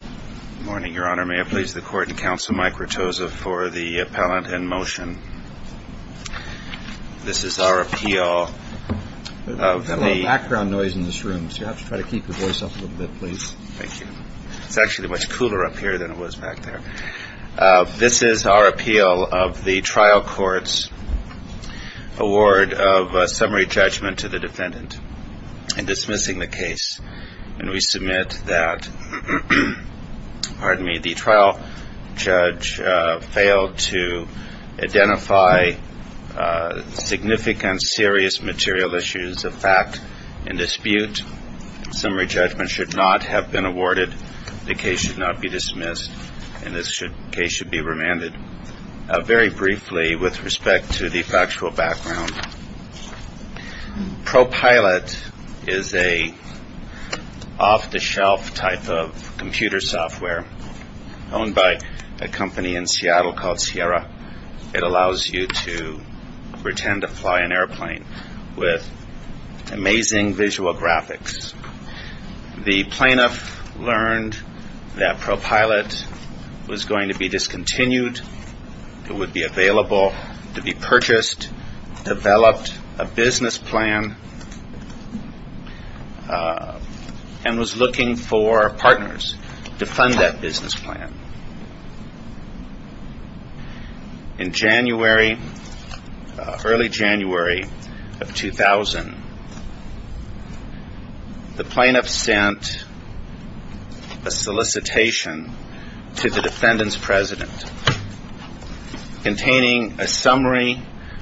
Good morning, Your Honor. May I please the Court and Counsel Mike Rattoza for the appellant in motion? This is our appeal of the- There's a little background noise in this room, so you'll have to try to keep your voice up a little bit, please. Thank you. It's actually much cooler up here than it was back there. This is our appeal of the trial court's award of summary judgment to the defendant in dismissing the case. And we submit that the trial judge failed to identify significant serious material issues of fact and dispute. Summary judgment should not have been awarded. The case should not be dismissed. And this case should be remanded. Very briefly, with respect to the factual background, ProPilot is an off-the-shelf type of computer software owned by a company in Seattle called Sierra. It allows you to pretend to fly an airplane with amazing visual graphics. The plaintiff learned that ProPilot was going to be discontinued. It would be available to be purchased, developed a business plan, and was looking for partners to fund that business plan. In January, early January of 2000, the plaintiff sent a solicitation to the defendant's president containing a summary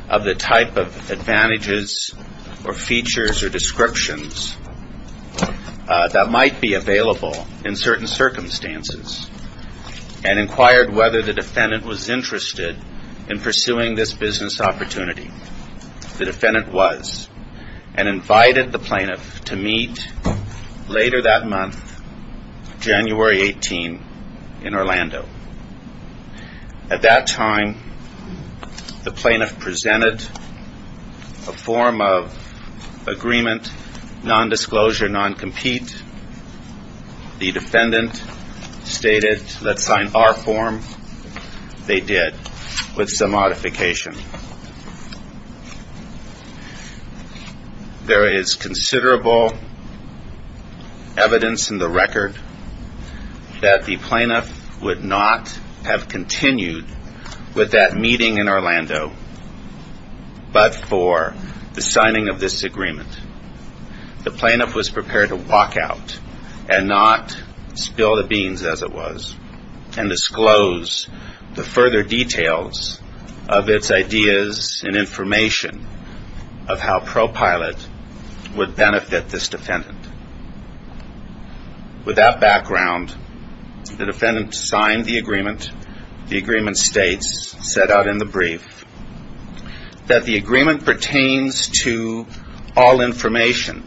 of the type of advantages or features or descriptions that might be available in certain circumstances. And inquired whether the defendant was interested in pursuing this business opportunity. The defendant was, and invited the plaintiff to meet later that month, January 18, in Orlando. At that time, the plaintiff presented a form of agreement, non-disclosure, non-compete. The defendant stated, let's sign our form. They did, with some modification. There is considerable evidence in the record that the plaintiff would not have continued with that meeting in Orlando, but for the signing of this agreement. The plaintiff was prepared to walk out and not spill the beans, as it was, and disclose the further details of its ideas and information of how ProPilot would benefit this defendant. With that background, the defendant signed the agreement. The agreement states, set out in the brief, that the agreement pertains to all information,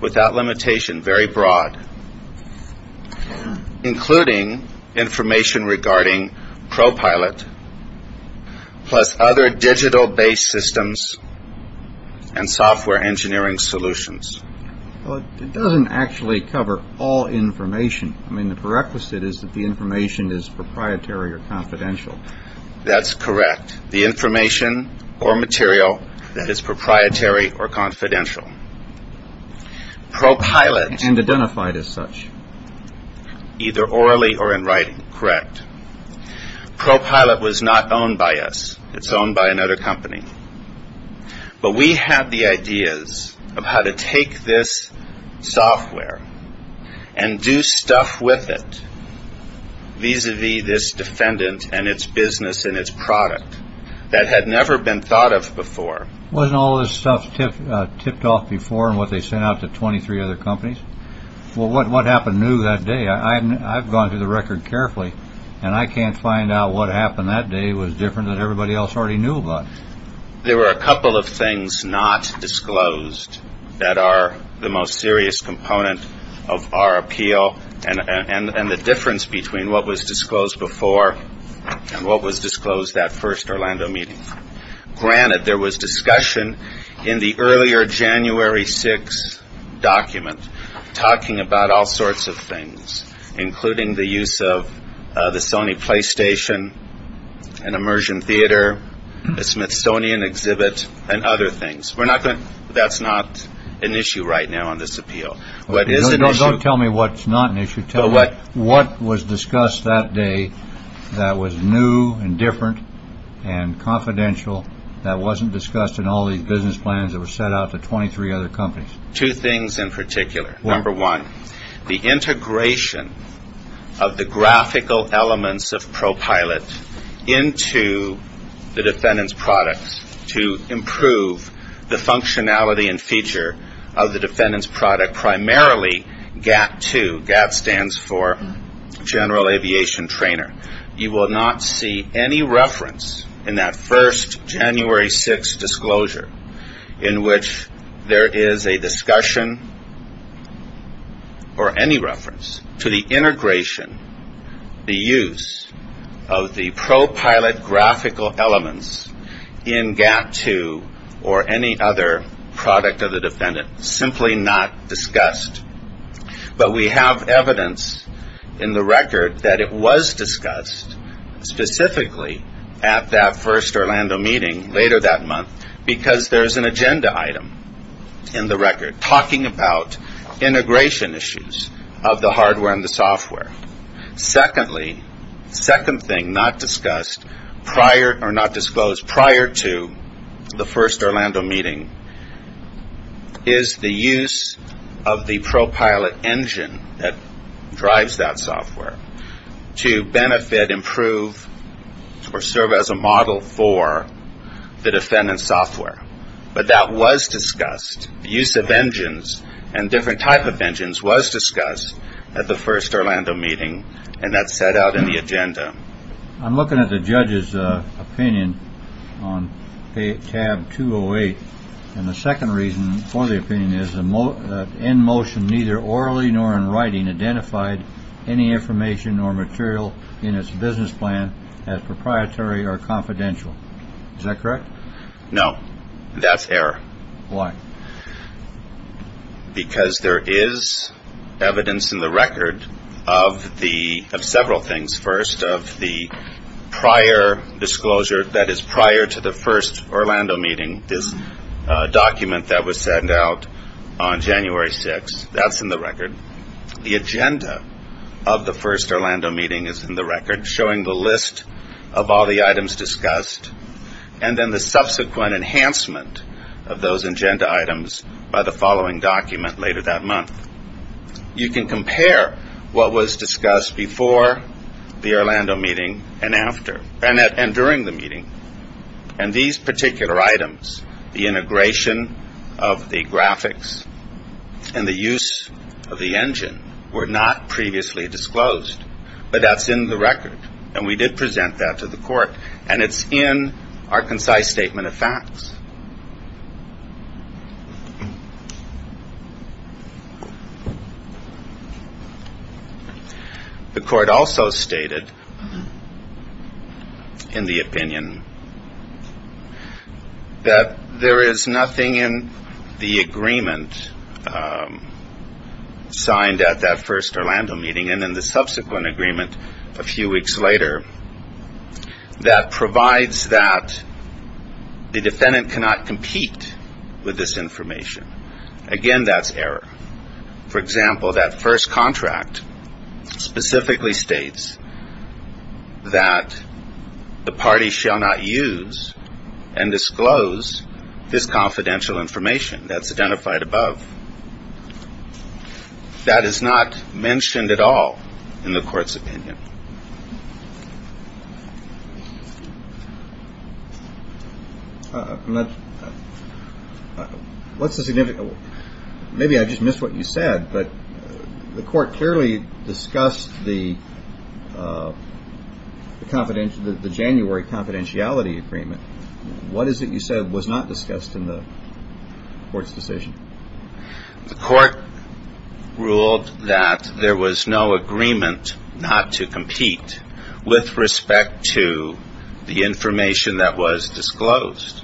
without limitation, very broad, including information regarding ProPilot, plus other digital-based systems and software engineering solutions. It doesn't actually cover all information. I mean, the prerequisite is that the information is proprietary or confidential. That's correct. The information or material that is proprietary or confidential. And identified as such. Either orally or in writing, correct. ProPilot was not owned by us. It's owned by another company. But we had the ideas of how to take this software and do stuff with it, vis-a-vis this defendant and its business and its product that had never been thought of before. Wasn't all this stuff tipped off before and what they sent out to 23 other companies? Well, what happened new that day? I've gone through the record carefully, and I can't find out what happened that day was different than everybody else already knew about. There were a couple of things not disclosed that are the most serious component of our appeal and the difference between what was disclosed before and what was disclosed that first Orlando meeting. Granted, there was discussion in the earlier January 6 document talking about all sorts of things, including the use of the Sony PlayStation, an immersion theater, a Smithsonian exhibit, and other things. That's not an issue right now on this appeal. Don't tell me what's not an issue. Tell me what was discussed that day that was new and different and confidential that wasn't discussed in all these business plans that were sent out to 23 other companies. Two things in particular. Number one, the integration of the graphical elements of ProPilot into the defendant's products to improve the functionality and feature of the defendant's product, primarily GAT-2. GAT stands for General Aviation Trainer. You will not see any reference in that first January 6 disclosure in which there is a discussion or any reference to the integration, the use of the ProPilot graphical elements in GAT-2 or any other product of the defendant. Simply not discussed. But we have evidence in the record that it was discussed specifically at that first Orlando meeting later that month because there's an agenda item in the record talking about integration issues of the hardware and the software. Secondly, second thing not disclosed prior to the first Orlando meeting is the use of the ProPilot engine that drives that software to benefit, improve, or serve as a model for the defendant's software. But that was discussed. The use of engines and different type of engines was discussed at the first Orlando meeting, and that's set out in the agenda. I'm looking at the judge's opinion on tab 208. And the second reason for the opinion is in motion neither orally nor in writing identified any information or material in its business plan as proprietary or confidential. Is that correct? No, that's error. Why? Because there is evidence in the record of several things. First, of the prior disclosure, that is, prior to the first Orlando meeting, this document that was sent out on January 6th, that's in the record. The agenda of the first Orlando meeting is in the record, showing the list of all the items discussed. And then the subsequent enhancement of those agenda items by the following document later that month. You can compare what was discussed before the Orlando meeting and during the meeting. And these particular items, the integration of the graphics and the use of the engine, were not previously disclosed. But that's in the record, and we did present that to the court. And it's in our concise statement of facts. The court also stated in the opinion that there is nothing in the agreement signed at that first Orlando meeting and in the subsequent agreement a few weeks later that provides that the defendant cannot compete with this information. Again, that's error. For example, that first contract specifically states that the party shall not use and disclose this confidential information that's identified above. That is not mentioned at all in the court's opinion. What's the significance? Maybe I just missed what you said, but the court clearly discussed the January confidentiality agreement. What is it you said was not discussed in the court's decision? The court ruled that there was no agreement not to compete with respect to the information that was disclosed.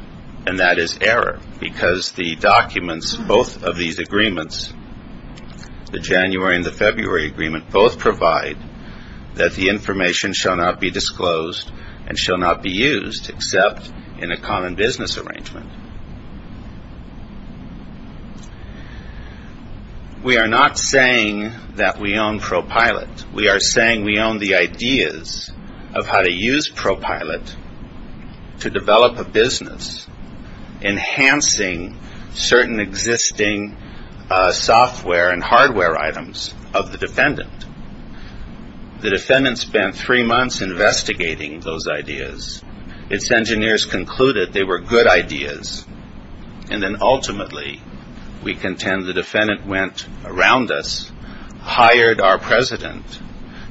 And that is error because the documents, both of these agreements, the January and the February agreement, both provide that the information shall not be disclosed and shall not be used except in a common business arrangement. We are not saying that we own ProPilot. We are saying we own the ideas of how to use ProPilot to develop a business, enhancing certain existing software and hardware items of the defendant. The defendant spent three months investigating those ideas. Its engineers concluded they were good ideas. And then ultimately we contend the defendant went around us, hired our president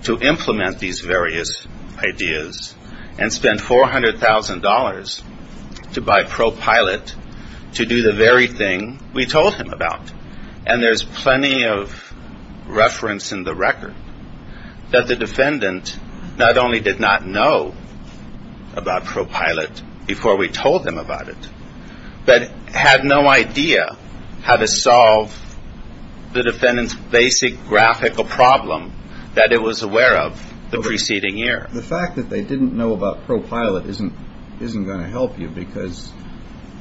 to implement these various ideas, and spent $400,000 to buy ProPilot to do the very thing we told him about. And there's plenty of reference in the record that the defendant not only did not know about ProPilot before we told them about it, but had no idea how to solve the defendant's basic graphical problem that it was aware of the preceding year. The fact that they didn't know about ProPilot isn't going to help you because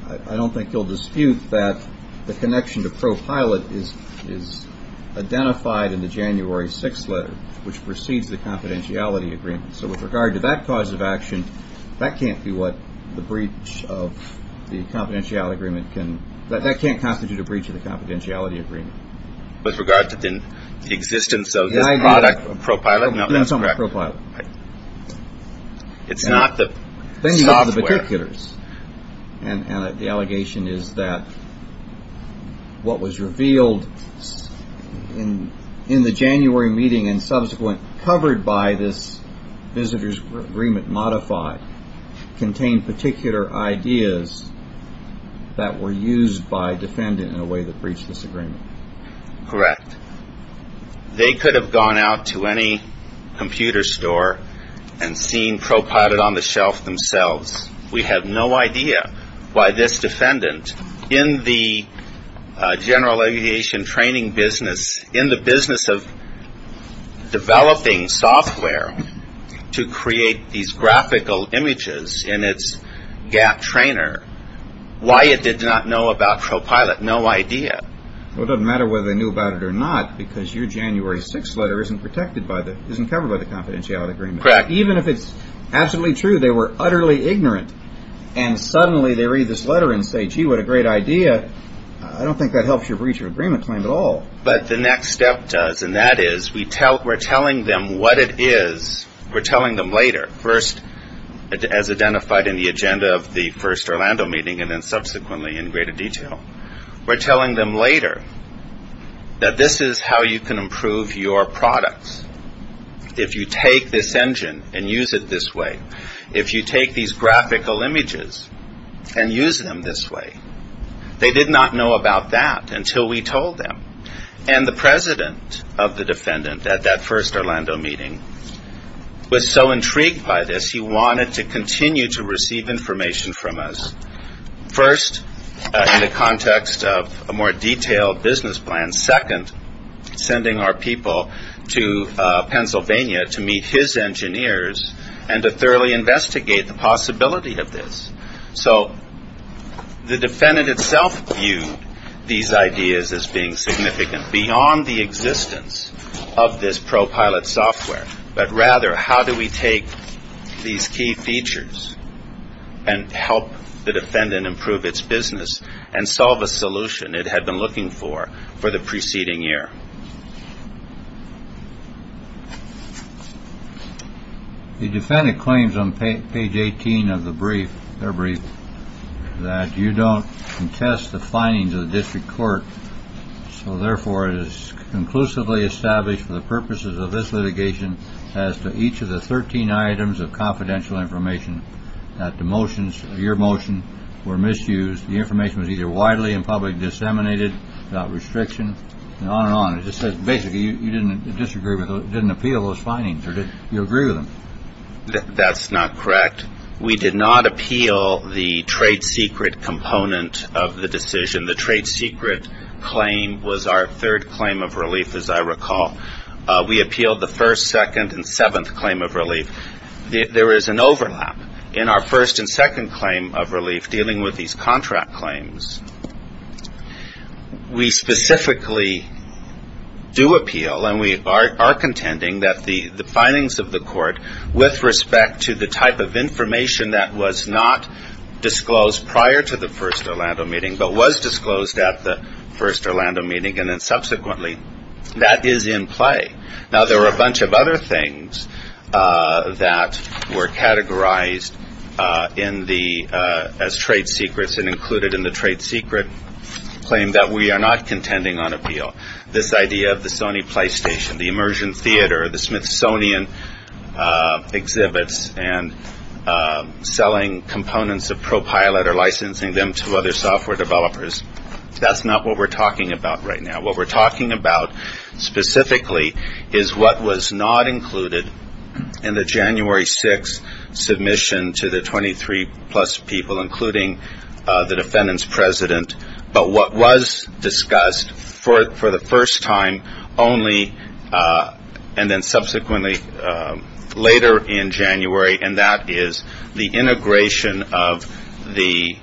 I don't think you'll dispute that the connection to ProPilot is identified in the January 6th letter, which precedes the confidentiality agreement. So with regard to that cause of action, that can't be what the breach of the confidentiality agreement can – that can't constitute a breach of the confidentiality agreement. With regard to the existence of this product, ProPilot, no, that's correct. It's not the software. The thing about the particulars, and the allegation is that what was revealed in the January meeting and subsequent covered by this visitor's agreement modified contained particular ideas that were used by the defendant in a way that breached this agreement. Correct. They could have gone out to any computer store and seen ProPilot on the shelf themselves. We have no idea why this defendant in the general aviation training business, in the business of developing software to create these graphical images in its gap trainer, why it did not know about ProPilot. No idea. Well, it doesn't matter whether they knew about it or not, because your January 6th letter isn't protected by the – isn't covered by the confidentiality agreement. Correct. Even if it's absolutely true they were utterly ignorant, and suddenly they read this letter and say, gee, what a great idea, I don't think that helps your breach of agreement claim at all. But the next step does, and that is we're telling them what it is. We're telling them later, first as identified in the agenda of the first Orlando meeting, and then subsequently in greater detail. We're telling them later that this is how you can improve your products. If you take this engine and use it this way. If you take these graphical images and use them this way. They did not know about that until we told them. And the president of the defendant at that first Orlando meeting was so intrigued by this, he wanted to continue to receive information from us. First, in the context of a more detailed business plan. Second, sending our people to Pennsylvania to meet his engineers and to thoroughly investigate the possibility of this. So the defendant itself viewed these ideas as being significant, beyond the existence of this pro-pilot software. But rather, how do we take these key features and help the defendant improve its business and solve a solution it had been looking for, for the preceding year? The defendant claims on page 18 of their brief, that you don't contest the findings of the district court. So therefore, it is conclusively established for the purposes of this litigation, as to each of the 13 items of confidential information, that your motion were misused, the information was either widely and publicly disseminated, without restriction, and on and on. It just says basically you didn't appeal those findings, or you agree with them. That's not correct. We did not appeal the trade secret component of the decision. The trade secret claim was our third claim of relief, as I recall. We appealed the first, second, and seventh claim of relief. There is an overlap in our first and second claim of relief, dealing with these contract claims. We specifically do appeal, and we are contending, that the findings of the court, with respect to the type of information that was not disclosed prior to the first Orlando meeting, but was disclosed at the first Orlando meeting, and then subsequently. That is in play. Now, there were a bunch of other things that were categorized as trade secrets, and included in the trade secret claim that we are not contending on appeal. This idea of the Sony PlayStation, the immersion theater, the Smithsonian exhibits, and selling components of ProPilot or licensing them to other software developers, that's not what we're talking about right now. What we're talking about specifically is what was not included in the January 6th submission to the 23-plus people, including the defendant's president, but what was discussed for the first time only, and then subsequently, later in January, and that is the integration of the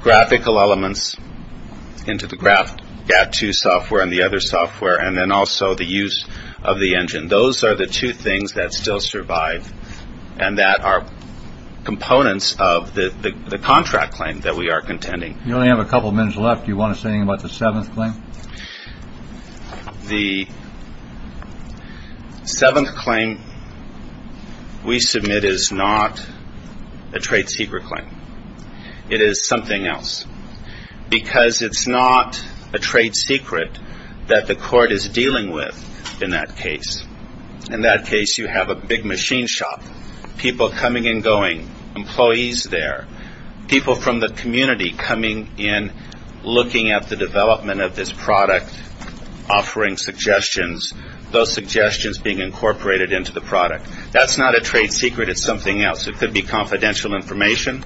graphical elements into the GAT2 software and the other software, and then also the use of the engine. Those are the two things that still survive, and that are components of the contract claim that we are contending. You only have a couple of minutes left. Do you want to say anything about the seventh claim? The seventh claim we submit is not a trade secret claim. It is something else, because it's not a trade secret that the court is dealing with in that case. In that case, you have a big machine shop, people coming and going, employees there, people from the community coming in, looking at the development of this product, offering suggestions, those suggestions being incorporated into the product. That's not a trade secret. It's something else. It could be confidential information,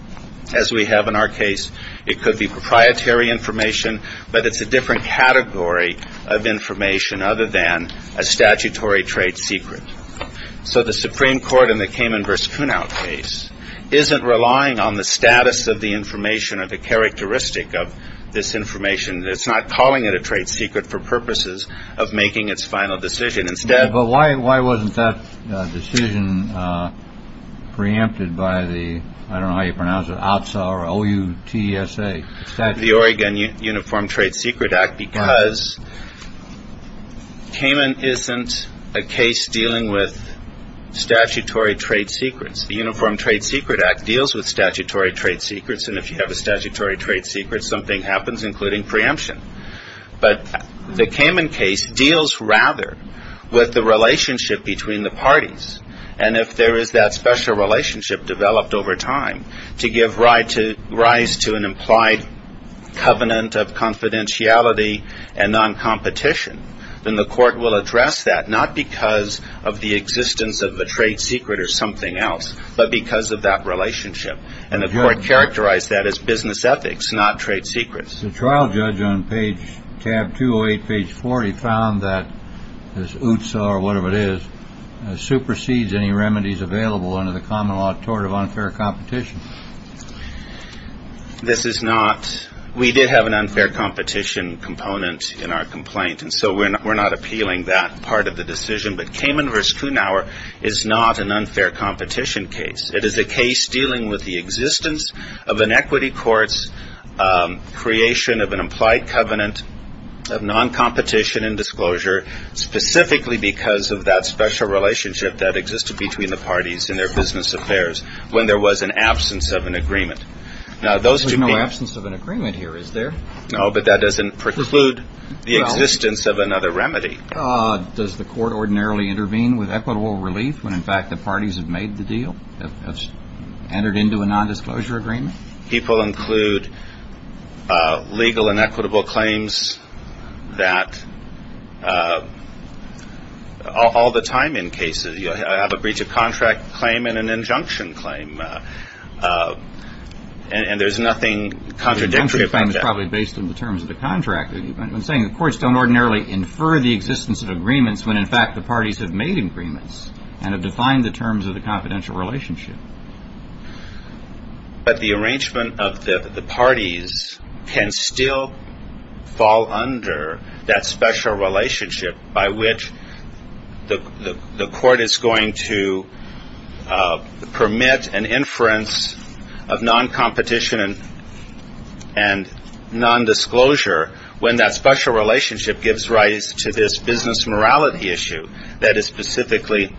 as we have in our case. It could be proprietary information, but it's a different category of information other than a statutory trade secret. So the Supreme Court in the Cayman versus Kunow case isn't relying on the status of the information or the characteristic of this information. It's not calling it a trade secret for purposes of making its final decision instead. But why? Why wasn't that decision preempted by the I don't know how you pronounce it. The Oregon Uniform Trade Secret Act, because Cayman isn't a case dealing with statutory trade secrets. The Uniform Trade Secret Act deals with statutory trade secrets. And if you have a statutory trade secret, something happens, including preemption. But the Cayman case deals rather with the relationship between the parties. And if there is that special relationship developed over time to give rise to an implied covenant of confidentiality and non-competition, then the court will address that not because of the existence of a trade secret or something else, but because of that relationship. And the court characterized that as business ethics, not trade secrets. The trial judge on page tab two or eight, page 40, found that this UTSA or whatever it is, supersedes any remedies available under the common law tort of unfair competition. This is not. We did have an unfair competition component in our complaint. And so we're not we're not appealing that part of the decision. But Cayman versus Kunow is not an unfair competition case. It is a case dealing with the existence of an equity court's creation of an implied covenant of non-competition and disclosure, specifically because of that special relationship that existed between the parties in their business affairs when there was an absence of an agreement. Now, there's no absence of an agreement here, is there? No, but that doesn't preclude the existence of another remedy. Does the court ordinarily intervene with equitable relief when, in fact, the parties have made the deal, have entered into a nondisclosure agreement? People include legal and equitable claims that all the time in cases you have a breach of contract claim and an injunction claim. And there's nothing contradictory. Probably based on the terms of the contract. I'm saying the courts don't ordinarily infer the existence of agreements when, in fact, the parties have made agreements and have defined the terms of the confidential relationship. But the arrangement of the parties can still fall under that special relationship by which the court is going to permit an inference of non-competition and nondisclosure when that special relationship gives rise to this business morality issue that is specifically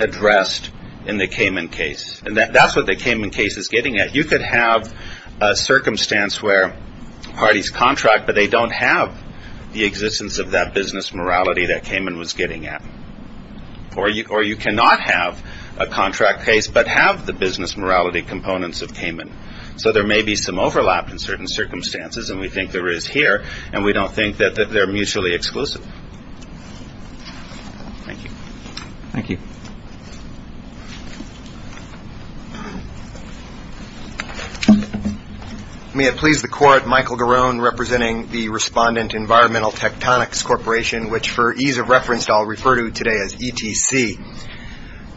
addressed in the Cayman case. And that's what the Cayman case is getting at. You could have a circumstance where parties contract, but they don't have the existence of that business morality that Cayman was getting at. Or you cannot have a contract case but have the business morality components of Cayman. So there may be some overlap in certain circumstances, and we think there is here. And we don't think that they're mutually exclusive. Thank you. Thank you. May it please the Court, Michael Garone representing the respondent Environmental Tectonics Corporation, which for ease of reference I'll refer to today as ETC.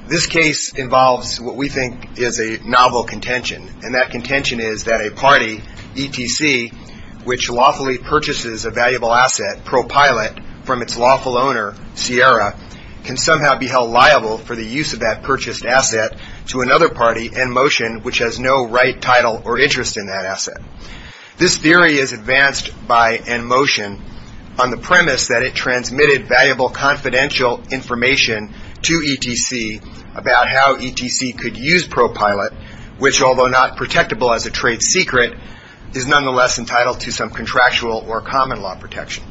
This case involves what we think is a novel contention, and that contention is that a party, ETC, which lawfully purchases a valuable asset, ProPilot, from its lawful owner, Sierra, can somehow be held liable for the use of that purchased asset to another party, NMotion, which has no right, title, or interest in that asset. This theory is advanced by NMotion on the premise that it transmitted valuable confidential information to ETC about how ETC could use ProPilot, which, although not protectable as a trade secret, is nonetheless entitled to some contractual or common law protection.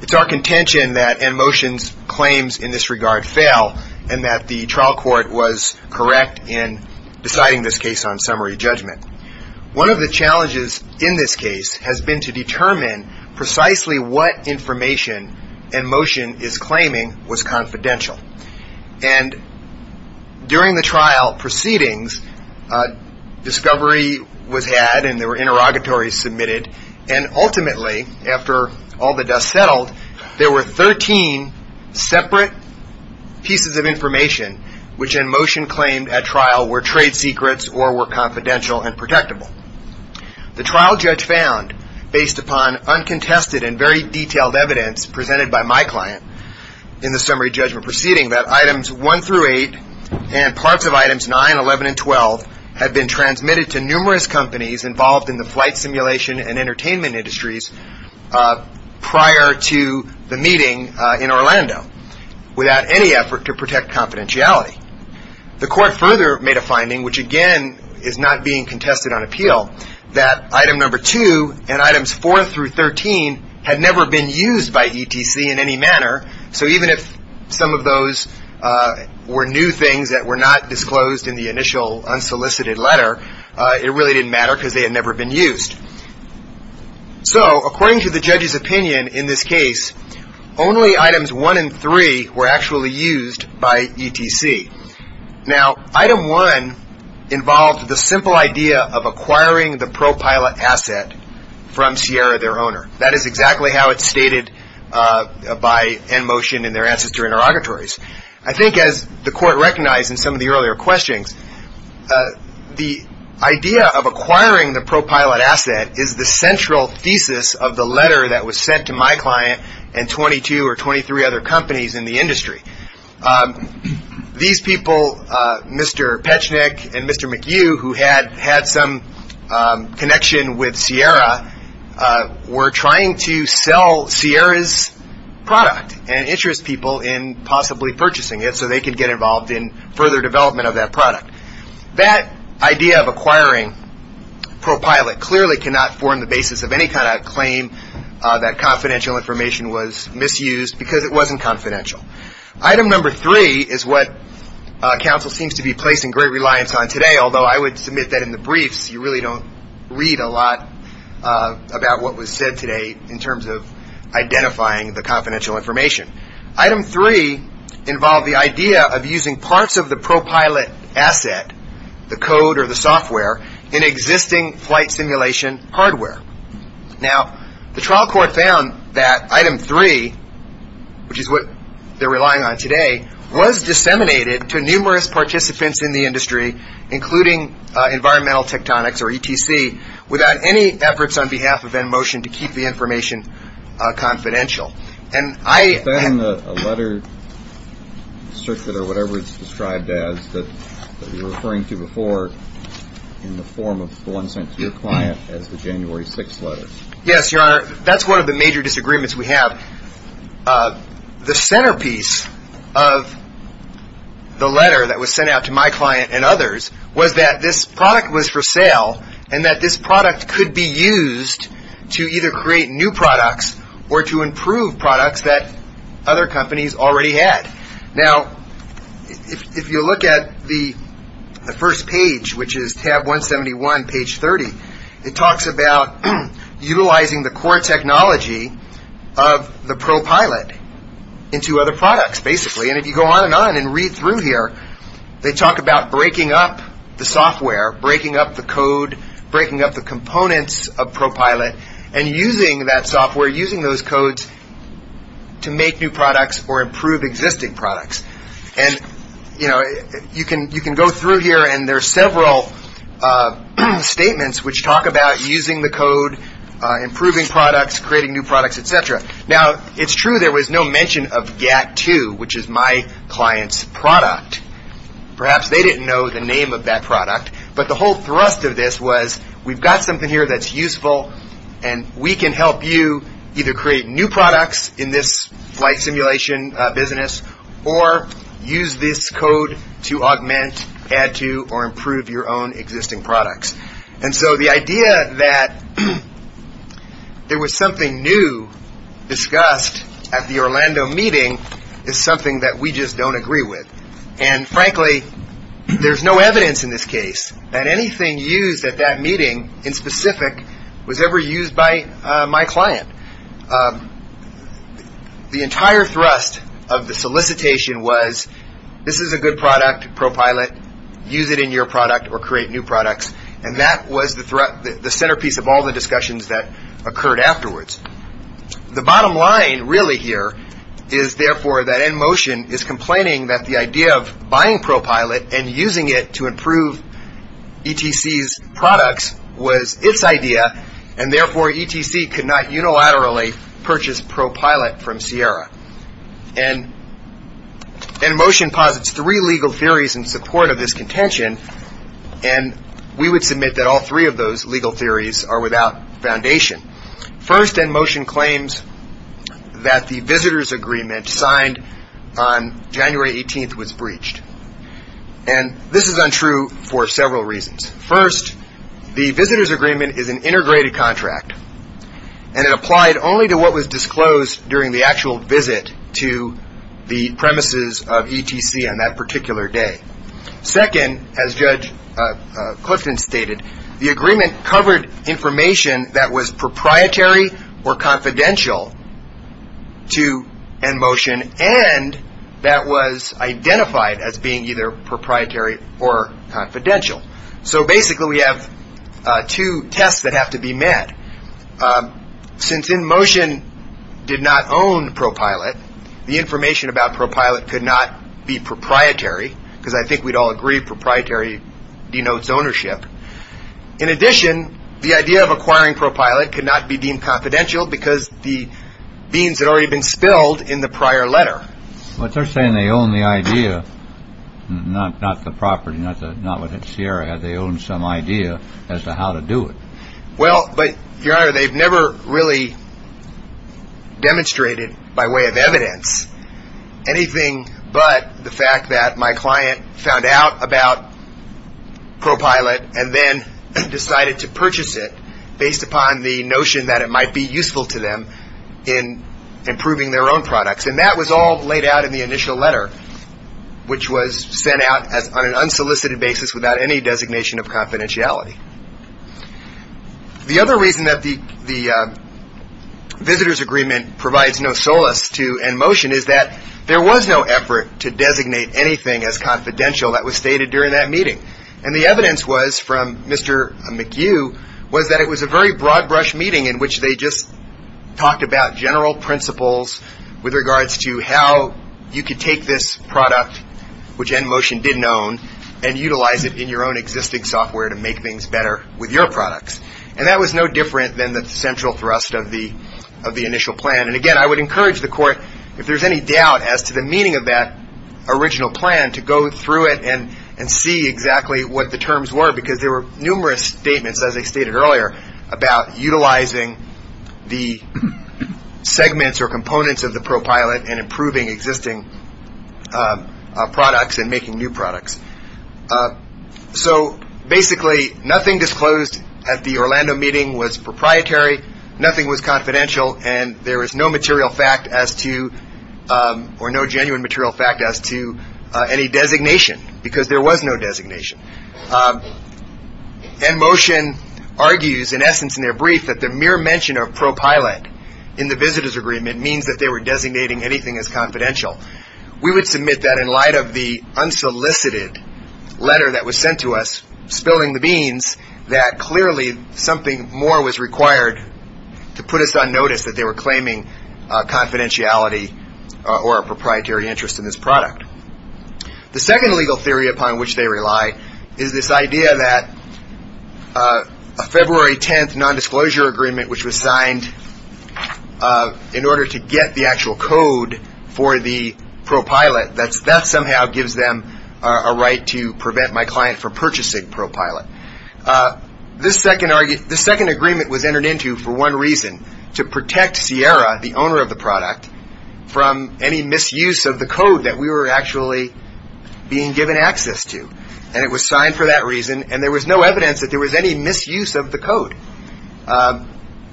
It's our contention that NMotion's claims in this regard fail, and that the trial court was correct in deciding this case on summary judgment. One of the challenges in this case has been to determine precisely what information NMotion is claiming was confidential. And during the trial proceedings, discovery was had and there were interrogatories submitted, and ultimately, after all the dust settled, there were 13 separate pieces of information which NMotion claimed at trial were trade secrets or were confidential and protectable. The trial judge found, based upon uncontested and very detailed evidence presented by my client in the summary judgment proceeding, that items 1 through 8 and parts of items 9, 11, and 12 had been transmitted to numerous companies involved in the flight simulation and entertainment industries prior to the meeting in Orlando without any effort to protect confidentiality. The court further made a finding, which again is not being contested on appeal, that item number 2 and items 4 through 13 had never been used by ETC in any manner. So even if some of those were new things that were not disclosed in the initial unsolicited letter, it really didn't matter because they had never been used. So, according to the judge's opinion in this case, only items 1 and 3 were actually used by ETC. Now, item 1 involved the simple idea of acquiring the pro-pilot asset from Sierra, their owner. That is exactly how it's stated by NMotion in their ancestor interrogatories. I think as the court recognized in some of the earlier questions, the idea of acquiring the pro-pilot asset is the central thesis of the letter that was sent to my client and 22 or 23 other companies in the industry. These people, Mr. Pechnik and Mr. McHugh, who had some connection with Sierra, were trying to sell Sierra's product and interest people in possibly purchasing it so they could get involved in further development of that product. That idea of acquiring pro-pilot clearly cannot form the basis of any kind of claim that confidential information was misused because it wasn't confidential. Item number 3 is what counsel seems to be placing great reliance on today, although I would submit that in the briefs you really don't read a lot about what was said today in terms of identifying the confidential information. Item 3 involved the idea of using parts of the pro-pilot asset, the code or the software, in existing flight simulation hardware. Now, the trial court found that item 3, which is what they're relying on today, was disseminated to numerous participants in the industry, including environmental tectonics or ETC, without any efforts on behalf of InMotion to keep the information confidential. And I... Is that in the letter circuit or whatever it's described as that you were referring to before in the form of the one sent to your client as the January 6th letter? Yes, Your Honor. That's one of the major disagreements we have. The centerpiece of the letter that was sent out to my client and others was that this product was for sale and that this product could be used to either create new products or to improve products that other companies already had. Now, if you look at the first page, which is tab 171, page 30, it talks about utilizing the core technology of the pro-pilot into other products, basically. And if you go on and on and read through here, they talk about breaking up the software, breaking up the code, breaking up the components of pro-pilot, and using that software, using those codes to make new products or improve existing products. And, you know, you can go through here and there are several statements which talk about using the code, improving products, creating new products, et cetera. Now, it's true there was no mention of GATT2, which is my client's product. Perhaps they didn't know the name of that product. But the whole thrust of this was we've got something here that's useful and we can help you either create new products in this flight simulation business or use this code to augment, add to, or improve your own existing products. And so the idea that there was something new discussed at the Orlando meeting is something that we just don't agree with. And, frankly, there's no evidence in this case that anything used at that meeting in specific was ever used by my client. The entire thrust of the solicitation was this is a good product, pro-pilot. Use it in your product or create new products. And that was the centerpiece of all the discussions that occurred afterwards. The bottom line really here is, therefore, that InMotion is complaining that the idea of buying pro-pilot and using it to improve ETC's products was its idea, and, therefore, ETC could not unilaterally purchase pro-pilot from Sierra. And InMotion posits three legal theories in support of this contention, and we would submit that all three of those legal theories are without foundation. First, InMotion claims that the visitor's agreement signed on January 18th was breached. And this is untrue for several reasons. First, the visitor's agreement is an integrated contract, and it applied only to what was disclosed during the actual visit to the premises of ETC on that particular day. Second, as Judge Clifton stated, the agreement covered information that was proprietary or confidential to InMotion and that was identified as being either proprietary or confidential. So, basically, we have two tests that have to be met. Since InMotion did not own pro-pilot, the information about pro-pilot could not be proprietary, because I think we'd all agree proprietary denotes ownership. In addition, the idea of acquiring pro-pilot could not be deemed confidential because the beans had already been spilled in the prior letter. But they're saying they own the idea, not the property, not what Sierra had. They own some idea as to how to do it. Well, but, Your Honor, they've never really demonstrated by way of evidence anything but the fact that my client found out about pro-pilot and then decided to purchase it based upon the notion that it might be useful to them in improving their own products. And that was all laid out in the initial letter, which was sent out on an unsolicited basis without any designation of confidentiality. The other reason that the visitor's agreement provides no solace to InMotion is that there was no effort to designate anything as confidential that was stated during that meeting. And the evidence was from Mr. McHugh, was that it was a very broad-brush meeting in which they just talked about general principles with regards to how you could take this product, which InMotion didn't own, and utilize it in your own existing software to make things better with your products. And that was no different than the central thrust of the initial plan. And, again, I would encourage the Court, if there's any doubt as to the meaning of that original plan, to go through it and see exactly what the terms were, because there were numerous statements, as I stated earlier, about utilizing the segments or components of the ProPilot and improving existing products and making new products. So, basically, nothing disclosed at the Orlando meeting was proprietary, nothing was confidential, and there is no material fact as to – or no genuine material fact as to any designation, because there was no designation. And InMotion argues, in essence, in their brief, that the mere mention of ProPilot in the visitor's agreement means that they were designating anything as confidential. We would submit that in light of the unsolicited letter that was sent to us, spilling the beans, that clearly something more was required to put us on notice that they were claiming confidentiality or a proprietary interest in this product. The second legal theory upon which they rely is this idea that a February 10th nondisclosure agreement, which was signed in order to get the actual code for the ProPilot, that somehow gives them a right to prevent my client from purchasing ProPilot. This second agreement was entered into for one reason, to protect Sierra, the owner of the product, from any misuse of the code that we were actually being given access to. And it was signed for that reason, and there was no evidence that there was any misuse of the code.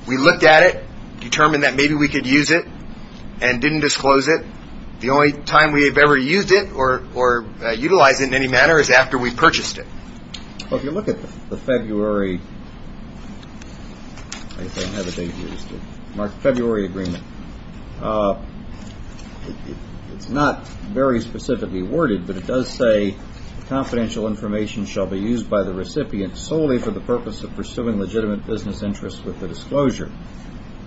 We looked at it, determined that maybe we could use it, and didn't disclose it. The only time we have ever used it or utilized it in any manner is after we purchased it. If you look at the February agreement, it's not very specifically worded, but it does say confidential information shall be used by the recipient solely for the purpose of pursuing legitimate business interests with the disclosure.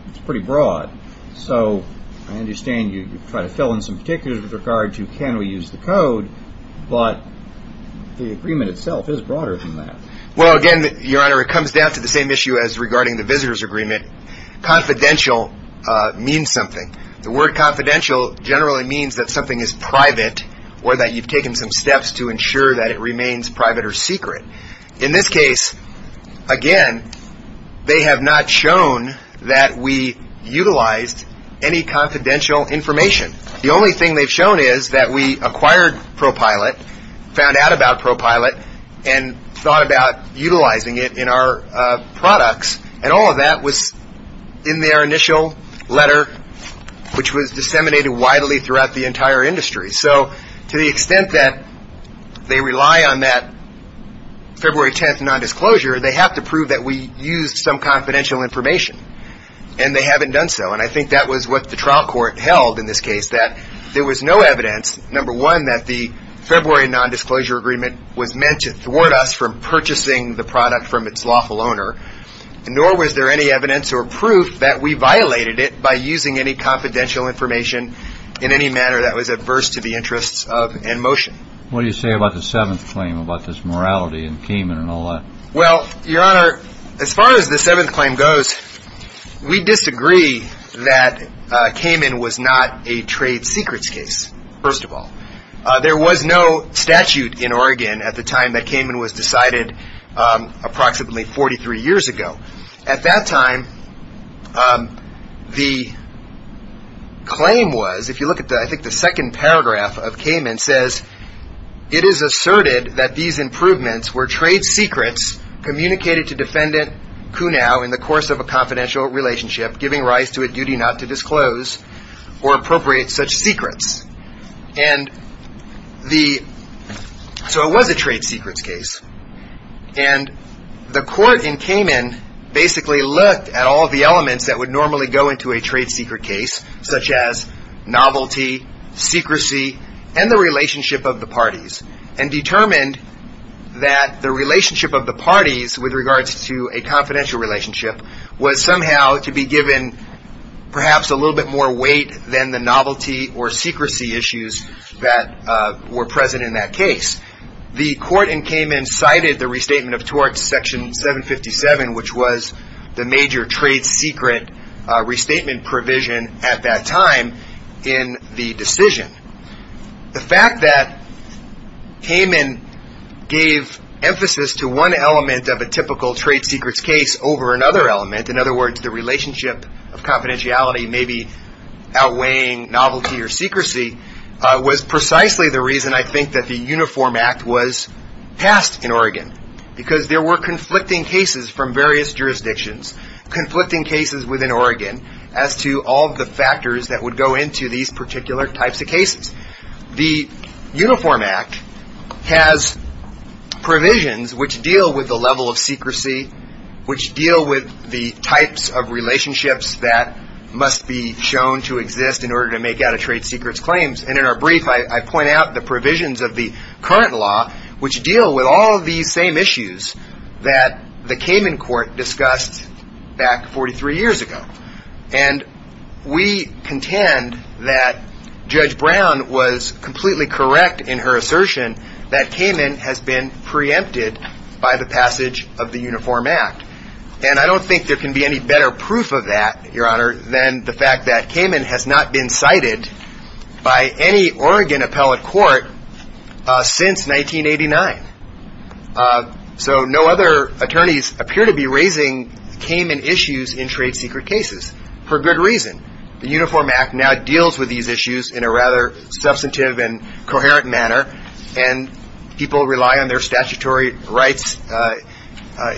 It's pretty broad. So I understand you try to fill in some particulars with regard to can we use the code, but the agreement itself is broader than that. Well, again, Your Honor, it comes down to the same issue as regarding the visitor's agreement. Confidential means something. The word confidential generally means that something is private or that you've taken some steps to ensure that it remains private or secret. In this case, again, they have not shown that we utilized any confidential information. The only thing they've shown is that we acquired ProPILOT, found out about ProPILOT, and thought about utilizing it in our products, and all of that was in their initial letter, which was disseminated widely throughout the entire industry. So to the extent that they rely on that February 10th nondisclosure, they have to prove that we used some confidential information, and they haven't done so. And I think that was what the trial court held in this case, that there was no evidence, number one, that the February nondisclosure agreement was meant to thwart us from purchasing the product from its lawful owner, nor was there any evidence or proof that we violated it by using any confidential information in any manner that was adverse to the interests of InMotion. What do you say about the seventh claim, about this morality and Cayman and all that? Well, Your Honor, as far as the seventh claim goes, we disagree that Cayman was not a trade secrets case, first of all. There was no statute in Oregon at the time that Cayman was decided approximately 43 years ago. At that time, the claim was, if you look at the second paragraph of Cayman, it says, it is asserted that these improvements were trade secrets communicated to defendant Kunow in the course of a confidential relationship, giving rise to a duty not to disclose or appropriate such secrets. And so it was a trade secrets case. And the court in Cayman basically looked at all the elements that would normally go into a trade secret case, such as novelty, secrecy, and the relationship of the parties, and determined that the relationship of the parties with regards to a confidential relationship was somehow to be given perhaps a little bit more weight than the novelty or secrecy issues that were present in that case. The court in Cayman cited the restatement of torts, section 757, which was the major trade secret restatement provision at that time in the decision. The fact that Cayman gave emphasis to one element of a typical trade secrets case over another element, in other words, the relationship of confidentiality maybe outweighing novelty or secrecy, was precisely the reason I think that the Uniform Act was passed in Oregon, because there were conflicting cases from various jurisdictions, conflicting cases within Oregon, as to all the factors that would go into these particular types of cases. The Uniform Act has provisions which deal with the level of secrecy, which deal with the types of relationships that must be shown to exist in order to make out a trade secrets claims. And in our brief, I point out the provisions of the current law, which deal with all of these same issues that the Cayman court discussed back 43 years ago. And we contend that Judge Brown was completely correct in her assertion that Cayman has been preempted by the passage of the Uniform Act. And I don't think there can be any better proof of that, Your Honor, than the fact that Cayman has not been cited by any Oregon appellate court since 1989. So no other attorneys appear to be raising Cayman issues in trade secret cases, for good reason. The Uniform Act now deals with these issues in a rather substantive and coherent manner, and people rely on their statutory rights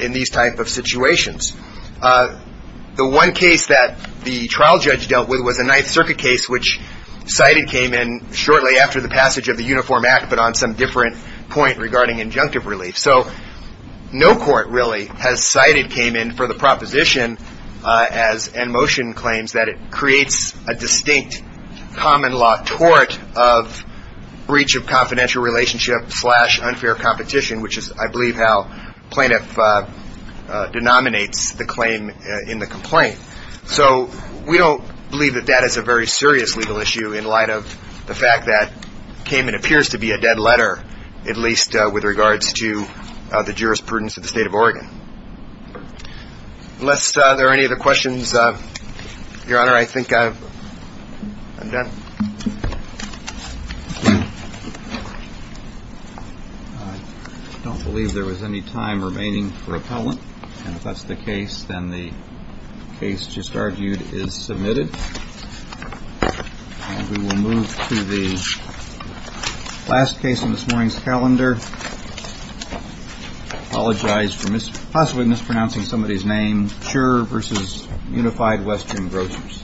in these types of situations. The one case that the trial judge dealt with was a Ninth Circuit case, which cited Cayman shortly after the passage of the Uniform Act, but on some different point regarding injunctive relief. So no court really has cited Cayman for the proposition and motion claims that it creates a distinct common law tort of breach of confidential relationship slash unfair competition, which is, I believe, how plaintiff denominates the claim in the complaint. So we don't believe that that is a very serious legal issue in light of the fact that Cayman appears to be a dead letter, at least with regards to the jurisprudence of the state of Oregon. Unless there are any other questions, Your Honor, I think I'm done. I don't believe there was any time remaining for appellant. And if that's the case, then the case just argued is submitted. And we will move to the last case in this morning's calendar. Apologize for possibly mispronouncing somebody's name. Sure. Versus Unified Western Grocers. Thank you.